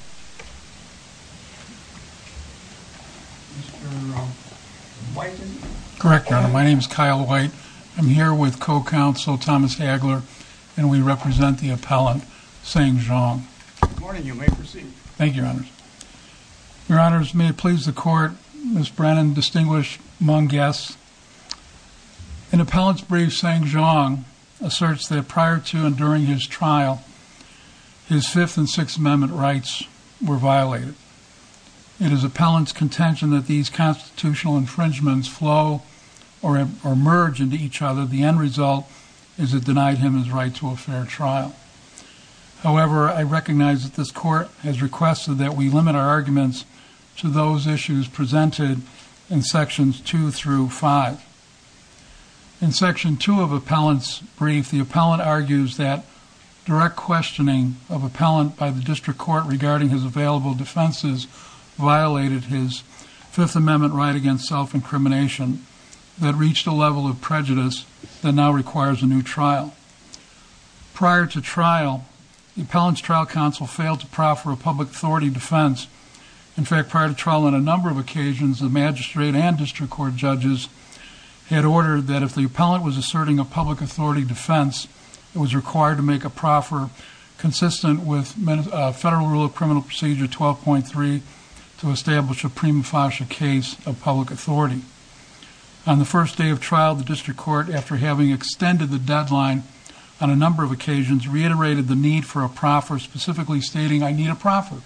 Mr. White? Correct, Your Honor. My name is Kyle White. I'm here with co-counsel Thomas Hagler and we represent the appellant, Tseng Zhong. Good morning. You may proceed. Thank you, Your Honors. Your Honors, may it please the Court, Ms. Brennan, distinguished among guests, an appellant's brief, Tseng Zhong, asserts that prior to and during his trial, his Fifth and Sixth Amendment rights were violated. It is appellant's contention that these constitutional infringements flow or emerge into each other. The end result is it denied him his right to a fair trial. However, I recognize that this Court has requested that we limit our arguments to those issues presented in sections two through five. In section two of appellant's brief, the appellant argues that direct questioning of appellant by the district court regarding his available defenses violated his Fifth Amendment right against self-incrimination that reached a level of prejudice that now requires a new trial. Prior to trial, the appellant's trial counsel failed to proffer a public authority defense. In fact, prior to trial on a number of occasions, the magistrate and district court judges had ordered that if the appellant was asserting a public authority defense, it was required to make a proffer consistent with Federal Rule of Criminal Procedure 12.3 to establish a prima facie case of public authority. On the first day of trial, the district court, after having extended the deadline on a number of occasions, reiterated the need for a proffer, specifically stating, I need a proffer.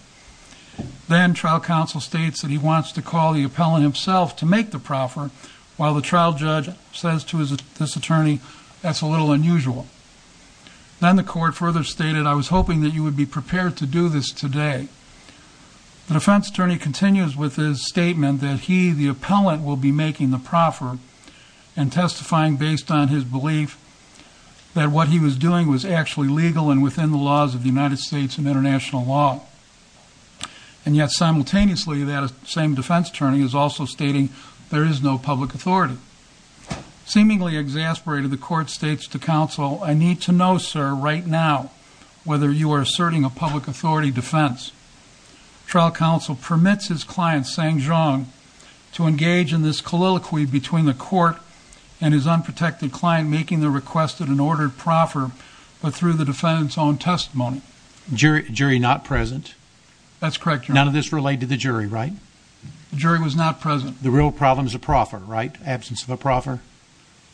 Then trial counsel states that he wants to call the appellant himself to make the proffer, while the trial judge says to this attorney, that's a little unusual. Then the court further stated, I was hoping that you would be prepared to do this today. The defense attorney continues with his statement that he, the appellant, will be making the proffer and testifying based on his belief that what he was doing was actually legal and within the laws of that same defense attorney is also stating there is no public authority. Seemingly exasperated, the court states to counsel, I need to know, sir, right now, whether you are asserting a public authority defense. Trial counsel permits his client, Sang Zhong, to engage in this colloquy between the court and his unprotected client, making the requested and ordered proffer, but through the defendant's own testimony. Jury not present. That's correct, your honor. None of this related to the jury, right? The jury was not present. The real problem is a proffer, right? Absence of a proffer.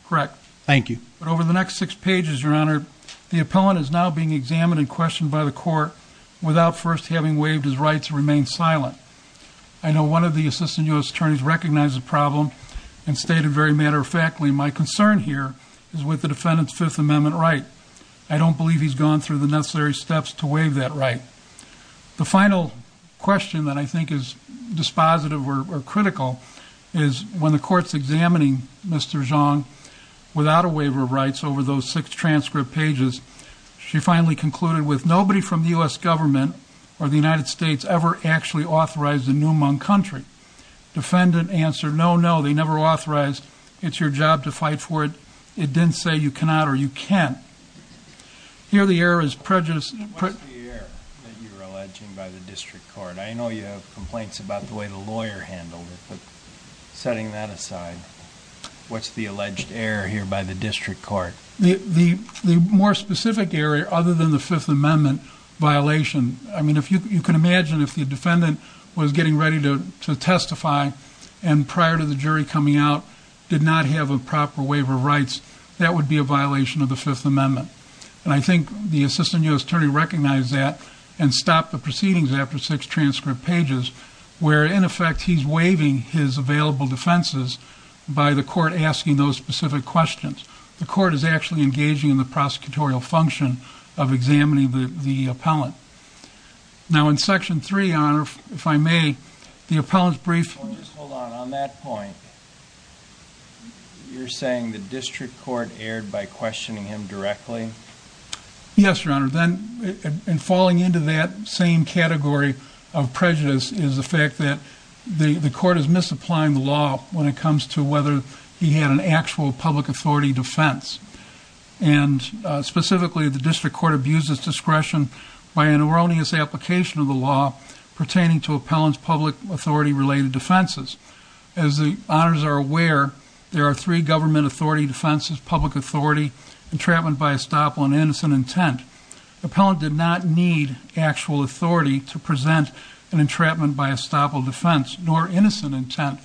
Correct. Thank you. But over the next six pages, your honor, the appellant is now being examined and questioned by the court without first having waived his right to remain silent. I know one of the assistant U.S. attorneys recognized the problem and stated very matter-of-factly, my concern here is with the defendant's Fifth Amendment right. I don't believe he's gone through the necessary steps to waive that right. The final question that I think is dispositive or critical is when the court's examining Mr. Zhong without a waiver of rights over those six transcript pages, she finally concluded with nobody from the U.S. government or the United States ever actually authorized a new Hmong country. Defendant answered, no, no, they never authorized. It's your job to fight for it. It didn't say you cannot or you can. Here, the error is prejudice. What's the error that you're alleging by the district court? I know you have complaints about the way the lawyer handled it, but setting that aside, what's the alleged error here by the district court? The more specific error, other than the Fifth Amendment violation, I mean, if you can imagine if the defendant was getting ready to testify and prior to the jury coming out did not have a proper waiver of rights, that would be a violation of the Fifth Amendment. And I think the assistant U.S. attorney recognized that and stopped the proceedings after six transcript pages where, in effect, he's waiving his available defenses by the court asking those specific questions. The court is actually engaging in the prosecutorial function of examining the appellant. Now, in Section 3, Your Honor, if I may, the appellant's brief... Just hold on. On that point, you're saying the district court erred by questioning him directly? Yes, Your Honor. Then, in falling into that same category of prejudice is the fact that the court is misapplying the law when it comes to whether he had an actual public authority defense. And specifically, the district court abuses discretion by an erroneous application of law pertaining to appellant's public authority-related defenses. As the honors are aware, there are three government authority defenses, public authority, entrapment by estoppel, and innocent intent. Appellant did not need actual authority to present an entrapment by estoppel defense, nor innocent intent.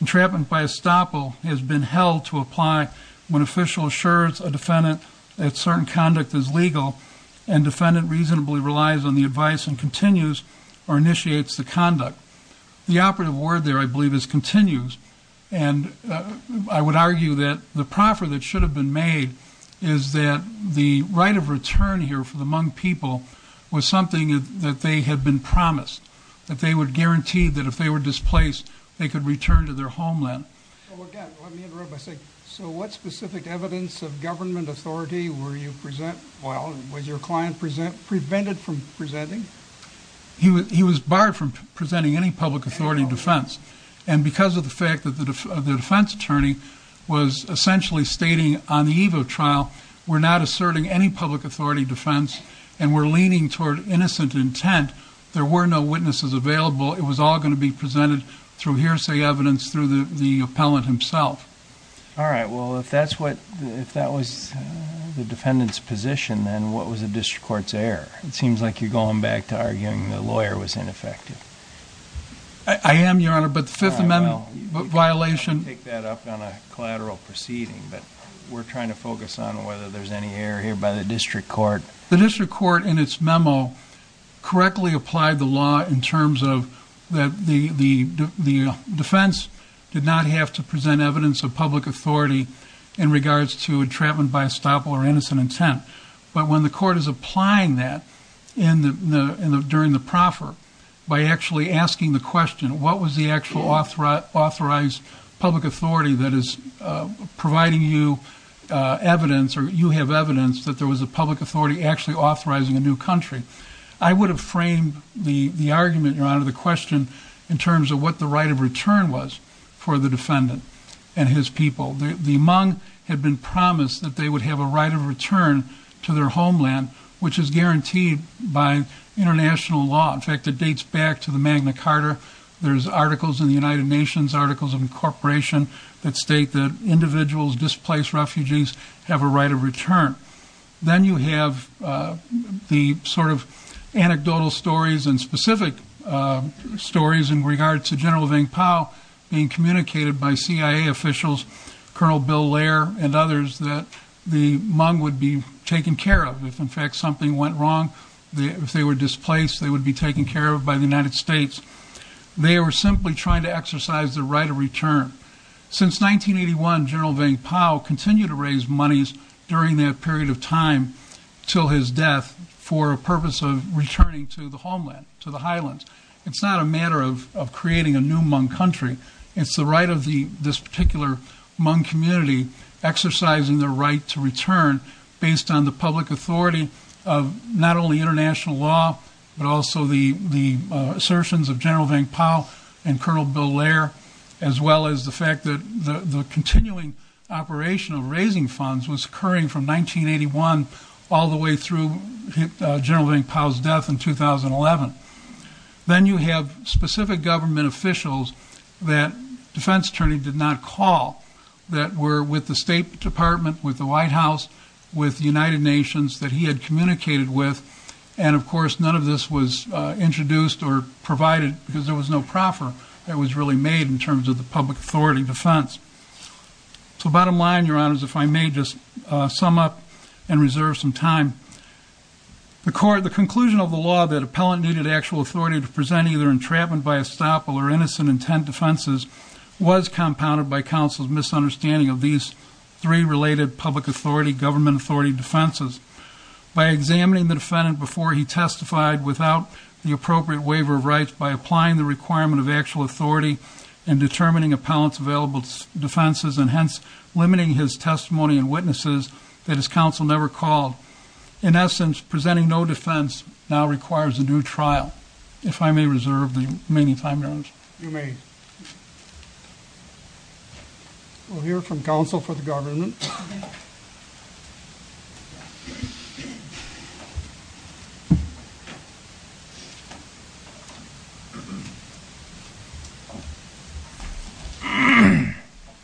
Entrapment by estoppel has been held to apply when official assures a defendant that certain conduct is legal and defendant reasonably relies on the advice and continues or initiates the conduct. The operative word there, I believe, is continues. And I would argue that the proffer that should have been made is that the right of return here for the Hmong people was something that they had been promised, that they would guarantee that if they were displaced, they could return to their homeland. Well, again, let me interrupt by saying, so what specific evidence of government authority were you present? Well, was your client prevented from presenting? He was barred from presenting any public authority defense. And because of the fact that the defense attorney was essentially stating on the eve of trial, we're not asserting any public authority defense and we're leaning toward innocent intent, there were no witnesses available. It was all going to be presented through hearsay evidence through the appellant himself. All right. Well, if that's what, if that was the defendant's position, then what was the district court's error? It seems like you're going back to arguing the lawyer was ineffective. I am, your honor, but the fifth amendment violation. I'll take that up on a collateral proceeding, but we're trying to focus on whether there's any error here by the district court. The district court in its memo correctly applied the law in terms of that the defense did not have to present evidence of public authority in regards to entrapment by estoppel or innocent intent. But when the court is applying that in the, in the, during the proffer by actually asking the question, what was the actual authorized public authority that is providing you evidence or you have evidence that there was a public authority actually authorizing a new country. I would have framed the argument, your honor, the question in terms of what the right of and his people, the Hmong had been promised that they would have a right of return to their homeland, which is guaranteed by international law. In fact, it dates back to the Magna Carta. There's articles in the United Nations articles of incorporation that state that individuals displaced refugees have a right of return. Then you have the sort of anecdotal stories and specific stories in regard to general Vang Pao being communicated by CIA officials, Colonel Bill Lair, and others that the Hmong would be taken care of. If in fact something went wrong, if they were displaced, they would be taken care of by the United States. They were simply trying to exercise the right of return. Since 1981, General Vang Pao continued to raise monies during that period of time till his death for a purpose of returning to the homeland, to the highlands. It's not a matter of creating a new Hmong country. It's the right of this particular Hmong community exercising their right to return based on the public authority of not only international law, but also the assertions of General Vang Pao and Colonel Bill Lair, as well as the fact that the continuing operation of raising funds was occurring from 1981 all the way through General Vang Pao's death in 2011. Then you have specific government officials that defense attorney did not call that were with the State Department, with the White House, with the United Nations that he had communicated with. And of course, none of this was introduced or provided because there was no proffer that was really made in terms of the public authority defense. So bottom line, your honors, if I may just sum up and reserve some time, the court, the presenting either entrapment by estoppel or innocent intent defenses was compounded by counsel's misunderstanding of these three related public authority, government authority defenses. By examining the defendant before he testified without the appropriate waiver of rights, by applying the requirement of actual authority and determining appellant's available defenses and hence limiting his testimony and witnesses that his counsel never called. In essence, presenting no defense now requires a new trial. If I may reserve the remaining time, your honors. You may. We'll hear from counsel for the government.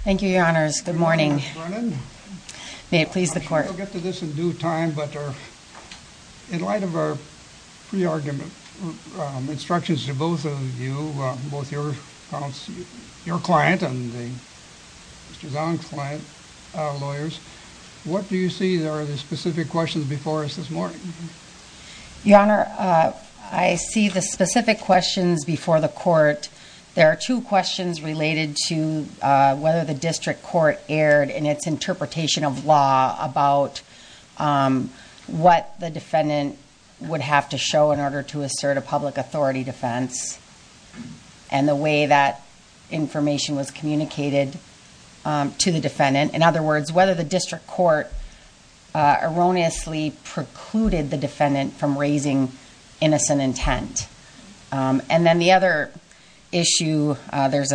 Thank you, your honors. Good morning. May it please the court. We'll get to this in due time, but in light of our pre-argument instructions to both of you, both your client and Mr. Zahn's client, lawyers, what do you see that are the specific questions before us this morning? Your honor, I see the specific questions before the court. There are two questions related to whether the district court erred in its interpretation of law about what the defendant would have to show in order to assert a public authority defense and the way that information was communicated to the defendant. In other words, whether the district court erroneously precluded the defendant from raising innocent intent. And then the other issue, there's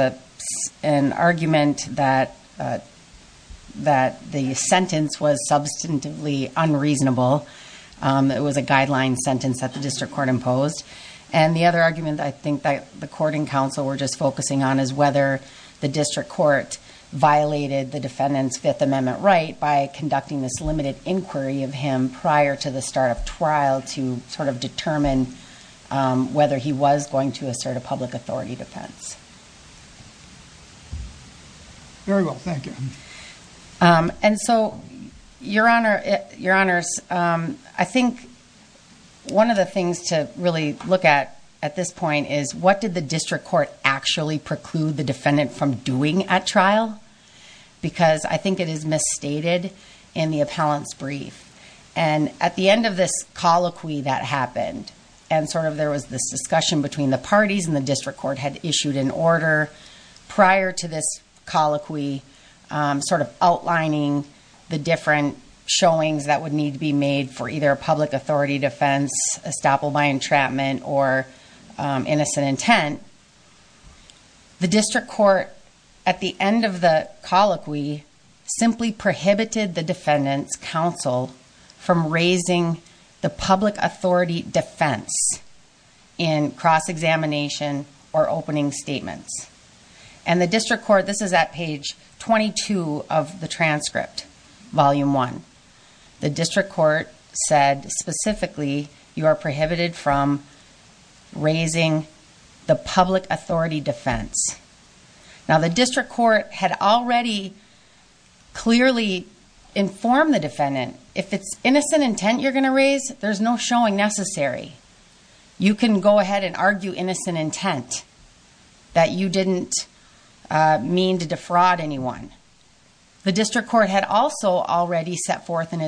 an argument that the sentence was substantively unreasonable. It was a guideline sentence that the district court imposed. And the other argument I think that the court and counsel were just focusing on is whether the district court violated the defendant's Fifth Amendment right by conducting this limited trial to determine whether he was going to assert a public authority defense. Very well, thank you. And so, your honors, I think one of the things to really look at at this point is what did the district court actually preclude the defendant from doing at trial? Because I think it is misstated in the appellant's brief. And at the end of this colloquy that happened, and sort of there was this discussion between the parties and the district court had issued an order prior to this colloquy sort of outlining the different showings that would need to be made for either a public authority defense, estoppel by entrapment, or innocent intent. The district court at the end of the colloquy simply prohibited the defendant's counsel from raising the public authority defense in cross-examination or opening statements. And the district court, this is at page 22 of the transcript, volume one, the district court said specifically, you are prohibited from raising the public authority defense. Now, the district court had already clearly informed the defendant, if it's innocent intent you're going to raise, there's no showing necessary. You can go ahead and argue innocent intent that you didn't mean to defraud anyone. The district court had also already set forth in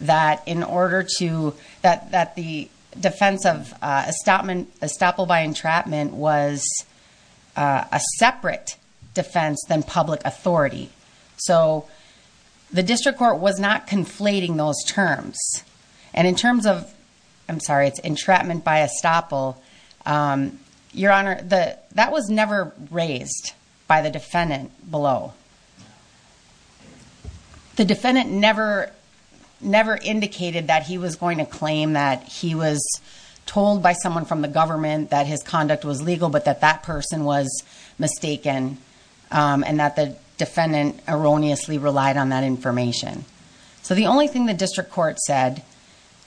that in order to, that the defense of estoppel by entrapment was a separate defense than public authority. So the district court was not conflating those terms. And in terms of, I'm sorry, it's entrapment by estoppel. Your honor, that was never raised by the defendant below. The defendant never, never indicated that he was going to claim that he was told by someone from the government that his conduct was legal, but that that person was mistaken and that the defendant erroneously relied on that information. So the only thing the district court said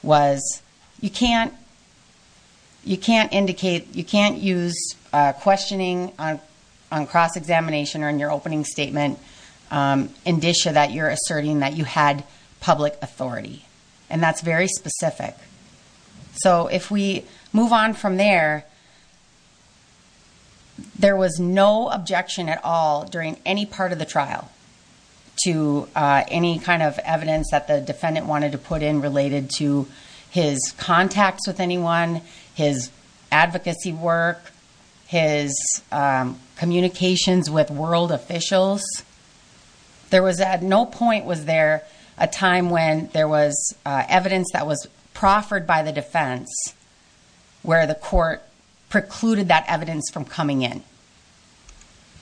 was, you can't, you can't indicate, you can't use questioning on cross-examination or in your opening statement indicia that you're asserting that you had public authority. And that's very specific. So if we move on from there, there was no objection at all during any part of the trial to any kind of evidence that the defendant wanted to put in related to his contacts with anyone, his advocacy work, his communications with world officials. There was at no point was there a time when there was evidence that was proffered by the defense where the court precluded that evidence from coming in.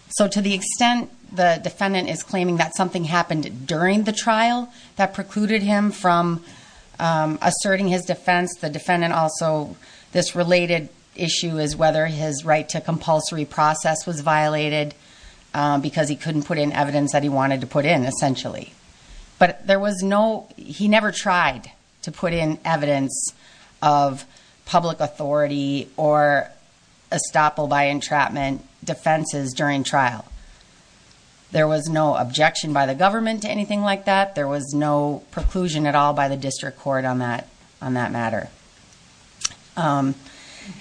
So to the extent the defendant is claiming that something happened during the trial that precluded him from asserting his defense, the defendant also, this related issue is whether his right to compulsory process was violated because he couldn't put in evidence that he wanted to put in essentially. But there was no, he never tried to put in evidence of public authority or estoppel by entrapment defenses during trial. There was no objection by the defense. There was no preclusion at all by the district court on that matter. In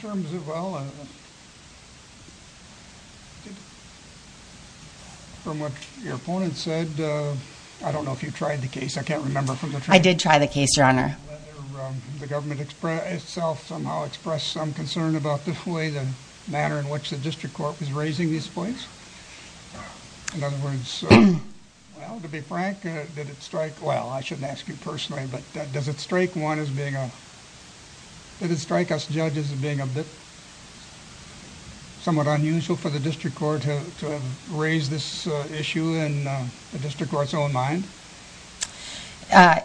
terms of, well, from what your opponent said, I don't know if you tried the case. I can't remember from the trial. I did try the case, your honor. The government itself somehow expressed some concern about the way, the manner in which the district court was raising these points. In other words, well to be frank, did it strike, well, I shouldn't ask you personally, but does it strike one as being a, did it strike us judges as being a bit somewhat unusual for the district court to raise this issue in the district court's own mind?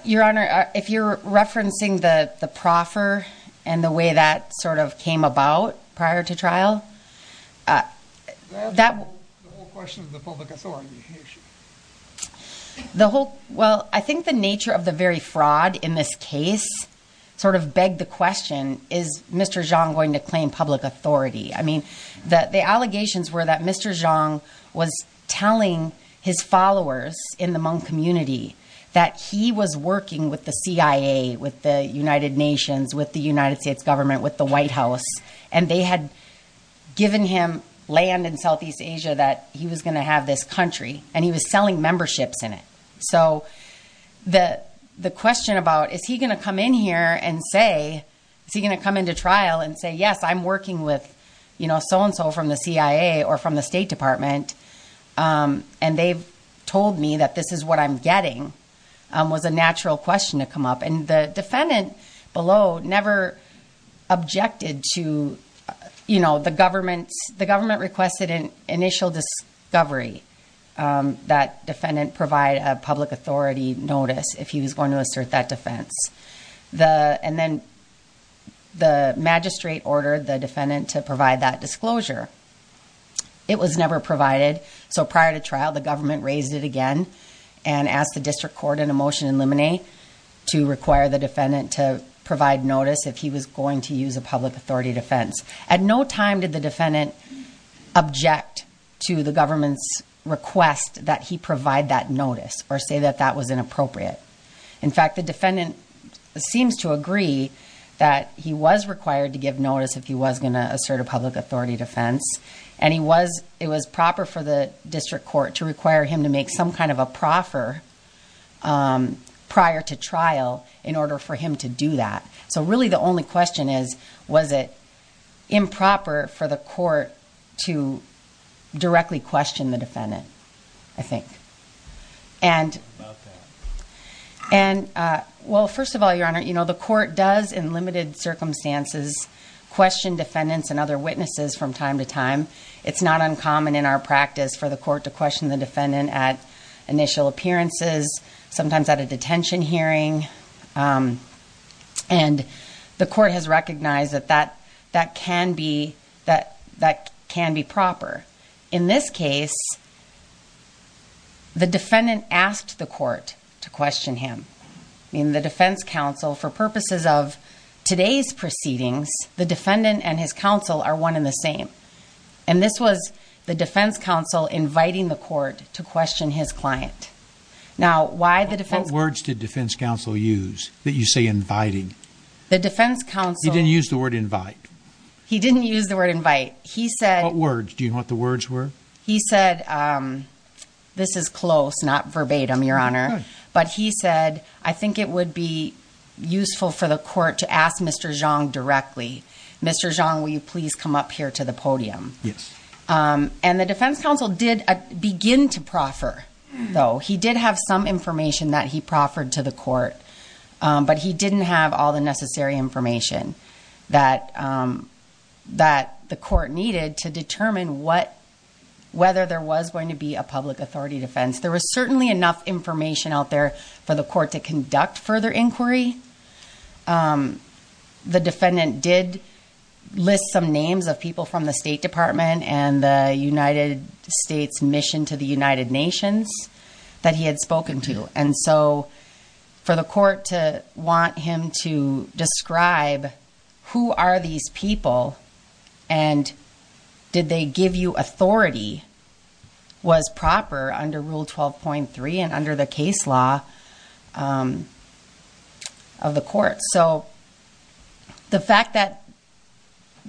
Your honor, if you're referencing the proffer and the way that sort of came about prior to trial, that- The whole, well, I think the nature of the very fraud in this case sort of begged the question, is Mr. Zhang going to claim public authority? I mean, the allegations were that Mr. Zhang was telling his followers in the Hmong community that he was working with the CIA, with the United Nations, with the United States government, with the White House, and they had given him land in Southeast Asia that he was going to have this country, and he was selling memberships in it. So the question about, is he going to come in here and say, is he going to come into trial and say, yes, I'm working with so-and-so from the CIA or from the state department, and they've told me that this is what I'm getting, was a natural question to come up. And the defendant below never objected to the government's... The government requested an initial discovery that defendant provide a public authority notice if he was going to assert that defense. And then the magistrate ordered the defendant to provide that disclosure. It was never provided. So prior to trial, the government raised it again and asked the district court in a motion in limine to require the defendant to provide notice if he was going to use a public authority defense. At no time did the defendant object to the government's request that he provide that notice or say that that was inappropriate. In fact, the defendant seems to agree that he was required to give notice if he was going to assert a public authority defense, and it was proper for the district court to require him make some kind of a proffer prior to trial in order for him to do that. So really the only question is, was it improper for the court to directly question the defendant, I think? Well, first of all, your honor, the court does in limited circumstances question defendants and other witnesses from time to time. It's not uncommon in our practice for the court to initial appearances, sometimes at a detention hearing. And the court has recognized that that can be proper. In this case, the defendant asked the court to question him. In the defense counsel, for purposes of today's proceedings, the defendant and his counsel are one in the same. And this was the defense counsel inviting the court to question his client. Now, why the defense? What words did defense counsel use that you say inviting? The defense counsel... He didn't use the word invite. He didn't use the word invite. He said... What words? Do you know what the words were? He said, this is close, not verbatim, your honor. But he said, I think it would be useful for the court to ask Mr. Zhang directly. Mr. Zhang, will you please come up here to the podium? And the defense counsel did begin to proffer, though. He did have some information that he proffered to the court, but he didn't have all the necessary information that the court needed to determine whether there was going to be a public authority defense. There was certainly enough information out there for the court to conduct further inquiry. The defendant did list some names of people from the State Department and the United States Mission to the United Nations that he had spoken to. And so, for the court to want him to describe who are these people, and did they give you authority, was proper under Rule 12.3. And under the case law of the court. So, the fact that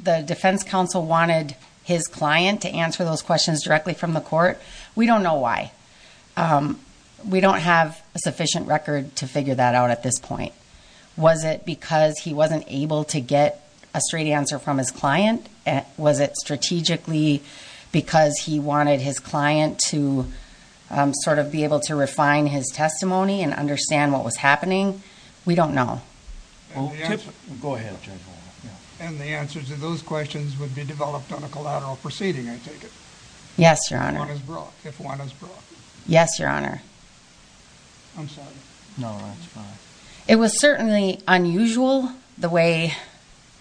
the defense counsel wanted his client to answer those questions directly from the court, we don't know why. We don't have a sufficient record to figure that out at this point. Was it because he wasn't able to get a straight answer from his client? Was it strategically because he wanted his client to sort of be able to refine his testimony and understand what was happening? We don't know. And the answers to those questions would be developed on a collateral proceeding, I take it? Yes, Your Honor. Yes, Your Honor. I'm sorry. No, that's fine. It was certainly unusual the way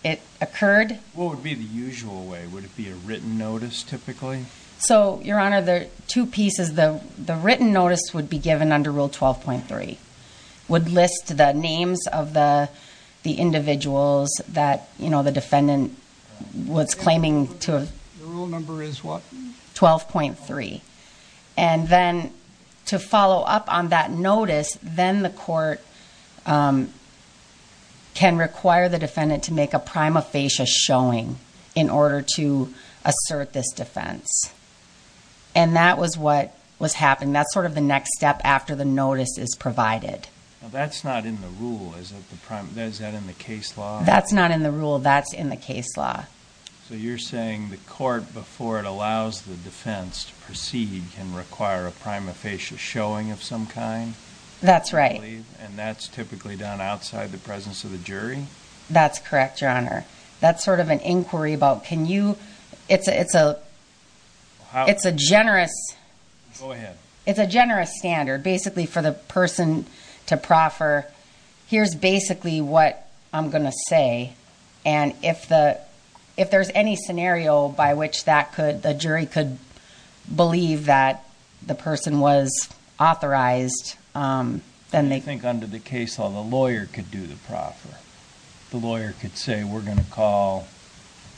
it occurred. What would be the usual way? Would it be a written notice, typically? So, Your Honor, there are two pieces. The written notice would be given under Rule 12.3, would list the names of the individuals that the defendant was claiming to have. The rule number is what? 12.3. And then, to follow up on that notice, then the court can require the defendant to make a prima facie showing in order to assert this defense. And that was what was happening. That's sort of the next step after the notice is provided. Now, that's not in the rule. Is that in the case law? That's not in the rule. That's in the case law. So, you're saying the court, before it allows the defense to proceed, can require a prima facie showing of some kind? That's right. And that's typically done outside the presence of the jury? That's correct, Your Honor. That's sort of an inquiry about, can you... It's a generous... Go ahead. It's a generous standard, basically, for the person to proffer, here's basically what I'm going to say. And if there's any scenario by which the jury could believe that the person was authorized, then they... The lawyer could say, we're going to call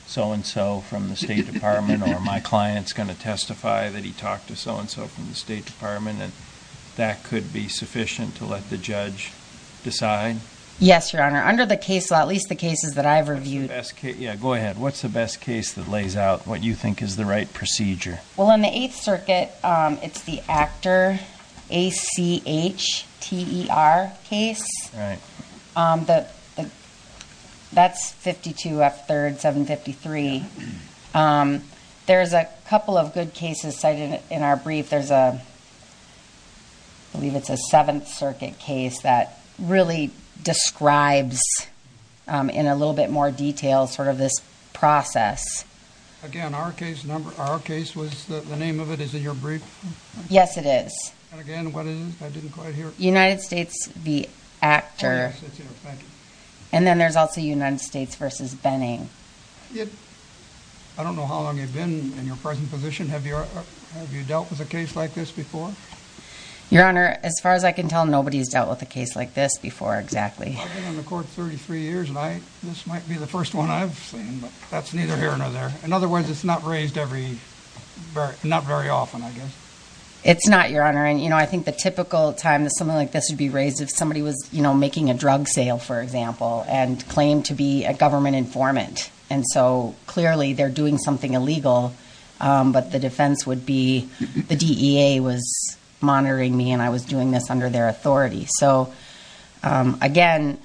so-and-so from the State Department, or my client's going to testify that he talked to so-and-so from the State Department, and that could be sufficient to let the judge decide? Yes, Your Honor. Under the case law, at least the cases that I've reviewed... What's the best case... Yeah, go ahead. What's the best case that lays out what you think is the right procedure? Well, in the Eighth Circuit, it's the ACHTER case. Right. The... That's 52 F3rd 753. There's a couple of good cases cited in our brief. There's a... I believe it's a Seventh Circuit case that really describes, in a little bit more detail, sort of this process. Again, our case number... Our case was... The name of it is in your brief? Yes, it is. And again, what is it? I didn't quite hear. United States v. ACHTER. Oh, yes, it's here. Thank you. And then there's also United States v. Benning. I don't know how long you've been in your present position. Have you dealt with a case like this before? Your Honor, as far as I can tell, nobody's dealt with a case like this before, exactly. I've been on the court 33 years, and this might be the first one I've seen, but that's neither here nor there. In other words, it's not raised every... Not very often, I guess. It's not, Your Honor. I think the typical time that something like this would be raised, if somebody was making a drug sale, for example, and claimed to be a government informant. And so, clearly, they're doing something illegal, but the defense would be, the DEA was monitoring me and I was doing this under their authority. So, again,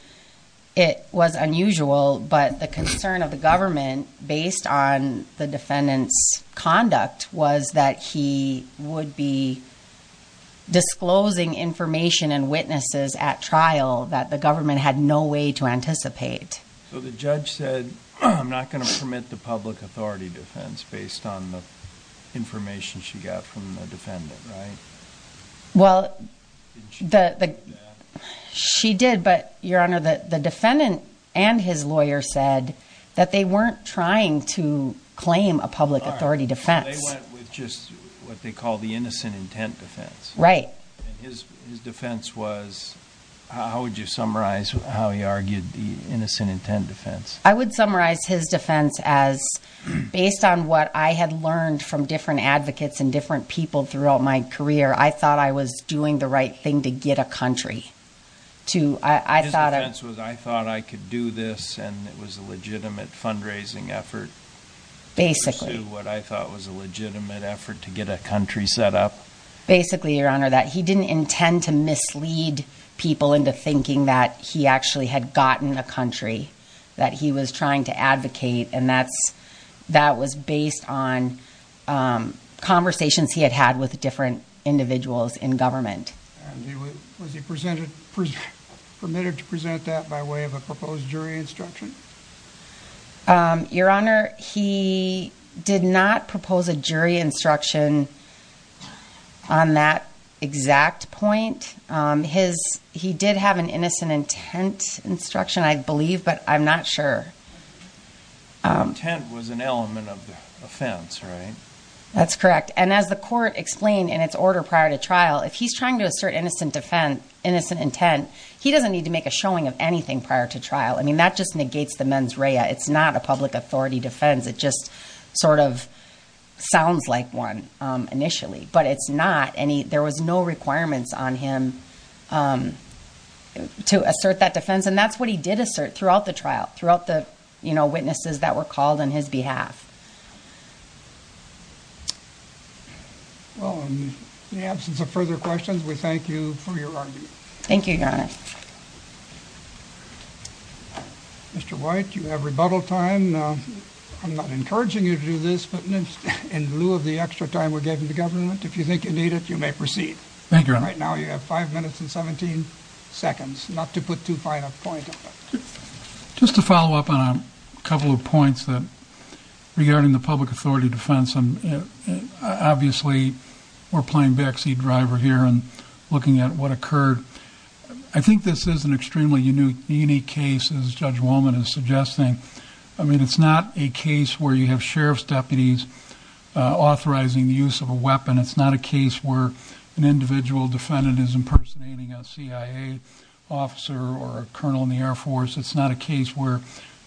it was unusual, but the concern of the government, based on the defendant's conduct, was that he would be disclosing information and witnesses at trial that the government had no way to anticipate. So, the judge said, I'm not going to permit the public authority defense based on the information she got from the defendant, right? Well, she did, but, Your Honor, the defendant and his lawyer said that they weren't trying to claim a public authority defense. They went with just what they call the innocent intent defense. Right. And his defense was, how would you summarize how he argued the innocent intent defense? I would summarize his defense as, based on what I had learned from different advocates and different people throughout my career, I thought I was doing the right thing to get a country. His defense was, I thought I could do this and it was a legitimate fundraising effort... Basically. What I thought was a legitimate effort to get a country set up. Basically, Your Honor, that he didn't intend to mislead people into thinking that he actually had gotten a country, that he was trying to advocate, and that was based on conversations he had had with different individuals in government. Was he permitted to present that by way of a proposed jury instruction? Your Honor, he did not propose a jury instruction on that exact point. He did have an innocent intent instruction, I believe, but I'm not sure. The intent was an element of the offense, right? That's correct. And as the court explained in its order prior to trial, if he's trying to assert innocent intent, he doesn't need to make a showing of anything prior to trial. That just negates the mens rea. It's not a public authority defense. It just sort of sounds like one initially, but there was no requirements on him to assert that defense. And that's what he did assert throughout the trial, throughout the witnesses that were called on his behalf. Well, in the absence of further questions, we thank you for your argument. Thank you, Your Honor. Mr. White, you have rebuttal time. I'm not encouraging you to do this, but in lieu of the extra time we're giving the government, if you think you need it, you may proceed. Thank you, Your Honor. Right now you have five minutes and 17 seconds, not to put too fine a point on that. Just to follow up on a couple of points that regarding the public authority defense, obviously we're playing backseat driver here and looking at what occurred. I think this is an extremely unique case as Judge Wolman is suggesting. I mean, it's not a case where you have sheriff's deputies authorizing the use of a weapon. It's not a case where an individual defendant is impersonating a CIA officer or a colonel in the Air Force. It's not a case where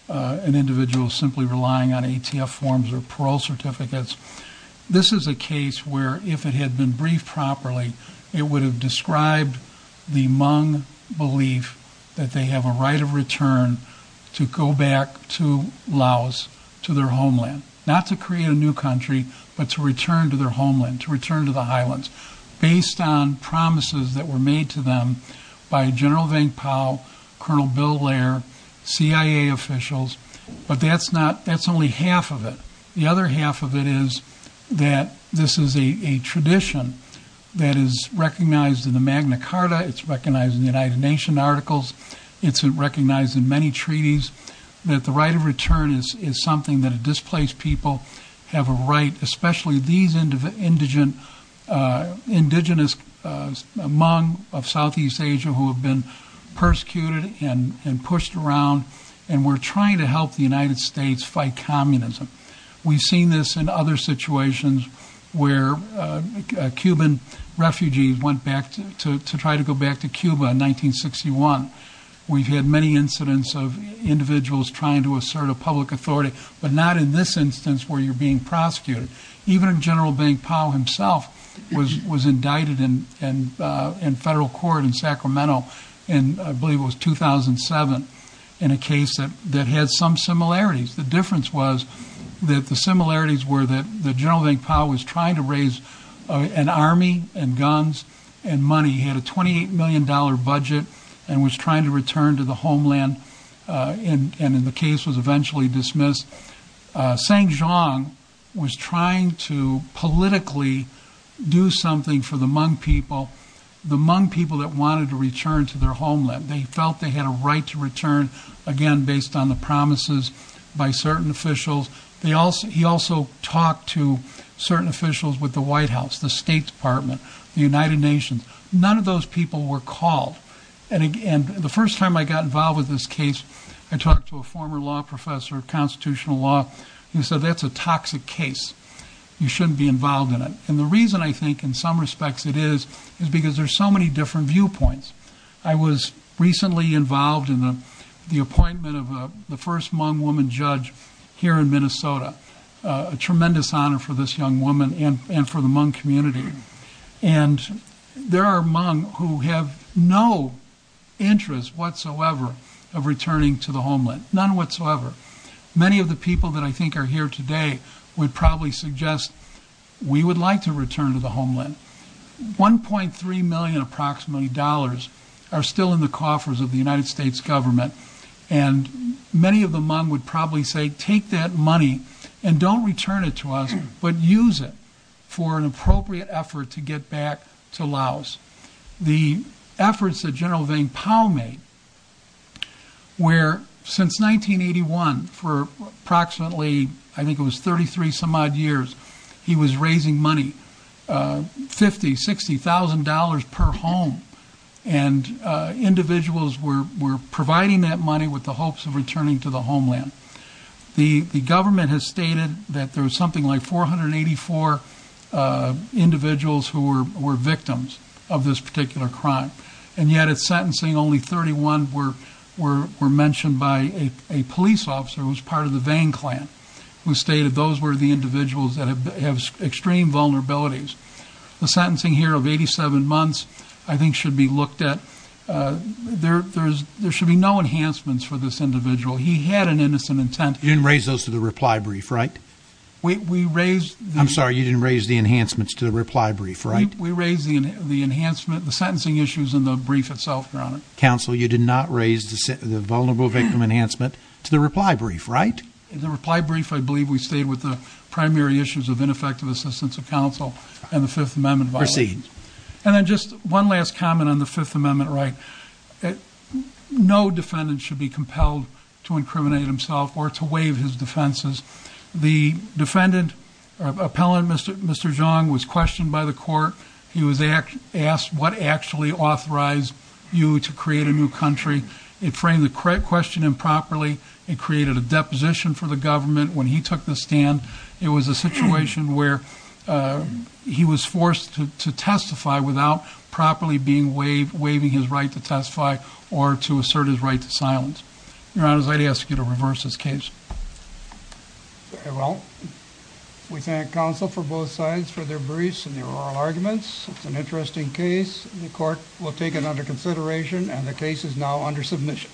an individual is simply relying on ATF forms or parole certificates. This is a case where if it had been briefed properly, it would have described the Hmong belief that they have a right of return to go back to Laos, to their homeland, not to create a new country, but to return to their homeland, to return to the highlands based on promises that were made to them by General Vang Pao, Colonel Bill Lair, CIA officials. But that's only half of it. The other half of it is that this is a tradition that is recognized in the Magna Carta. It's recognized in the United Nations articles. It's recognized in many treaties that the right of return is something that a displaced people have a right, especially these indigenous Hmong of Southeast Asia who have been persecuted and pushed around. And we're trying to help the United States fight communism. We've seen this in other situations where Cuban refugees went back to try to go back to Cuba in 1961. We've had many incidents of individuals trying to assert a public authority, but not in this instance where you're being prosecuted. Even General Vang Pao himself was indicted in federal court in Sacramento, and I believe it was 2007, in a case that had some similarities. The difference was that the similarities were that General Vang Pao was trying to raise an army and guns and money. He had a $28 million budget and was trying to return to the homeland, and the case was eventually dismissed. Saint John was trying to politically do something for the Hmong people, the Hmong people that wanted to return to their homeland. They felt they had a right to return, again, based on the promises by certain officials. He also talked to certain officials with the White House, the State Department, the United Nations. None of those people were called, and the first time I got involved with this case, I talked to a former law professor of constitutional law, and he said, that's a toxic case. You shouldn't be involved in it, and the reason I think in some respects it is is because there's so many different viewpoints. I was recently involved in the appointment of the first Hmong woman judge here in Minnesota, a tremendous honor for this young woman and for the Hmong community, and there are Hmong who have no interest whatsoever of returning to the homeland, none whatsoever. Many of the people that I think are here today would probably suggest we would like to return to the homeland. $1.3 million approximately are still in the coffers of the United States government, and many of the Hmong would probably say, take that money and don't return it to us, but use it for an appropriate effort to get back to Laos. The efforts that General Vang Pao made were since 1981 for approximately, I think it was 33 some odd years, he was raising money, $50,000, $60,000 per home, and individuals were providing that money with the hopes of returning to the homeland. The government has stated that there was something like 484 individuals who were victims of this particular crime, and yet at sentencing, only 31 were mentioned by a police officer who was part of the Vang clan, who stated those were the individuals that have extreme vulnerabilities. The sentencing here of 87 months, I think should be looked at. There should be no enhancements for this individual. He had an innocent intent. You didn't raise those to the reply brief, right? We raised the- I'm sorry, you didn't raise the enhancements to the reply brief, right? We raised the enhancement, the sentencing issues in the brief itself, Your Honor. Counsel, you did not raise the vulnerable victim enhancement to the reply brief, right? The reply brief, I believe we stayed with the primary issues of ineffective assistance of counsel and the Fifth Amendment violations. Proceed. And then just one last comment on the Fifth Amendment, right? No defendant should be compelled to incriminate himself or to waive his defenses. The defendant, Appellant Mr. Zhang, was questioned by the court. He was asked, what actually authorized you to create a new country? It framed the question improperly. It created a deposition for the government when he took the stand. It was a situation where he was forced to testify without properly being waived, waiving his right to testify or to assert his right to silence. Your Honor, I'd ask you to reverse this case. Well, we thank counsel for both sides for their briefs and their oral arguments. It's an interesting case. The court will take it under consideration and the case is now under submission.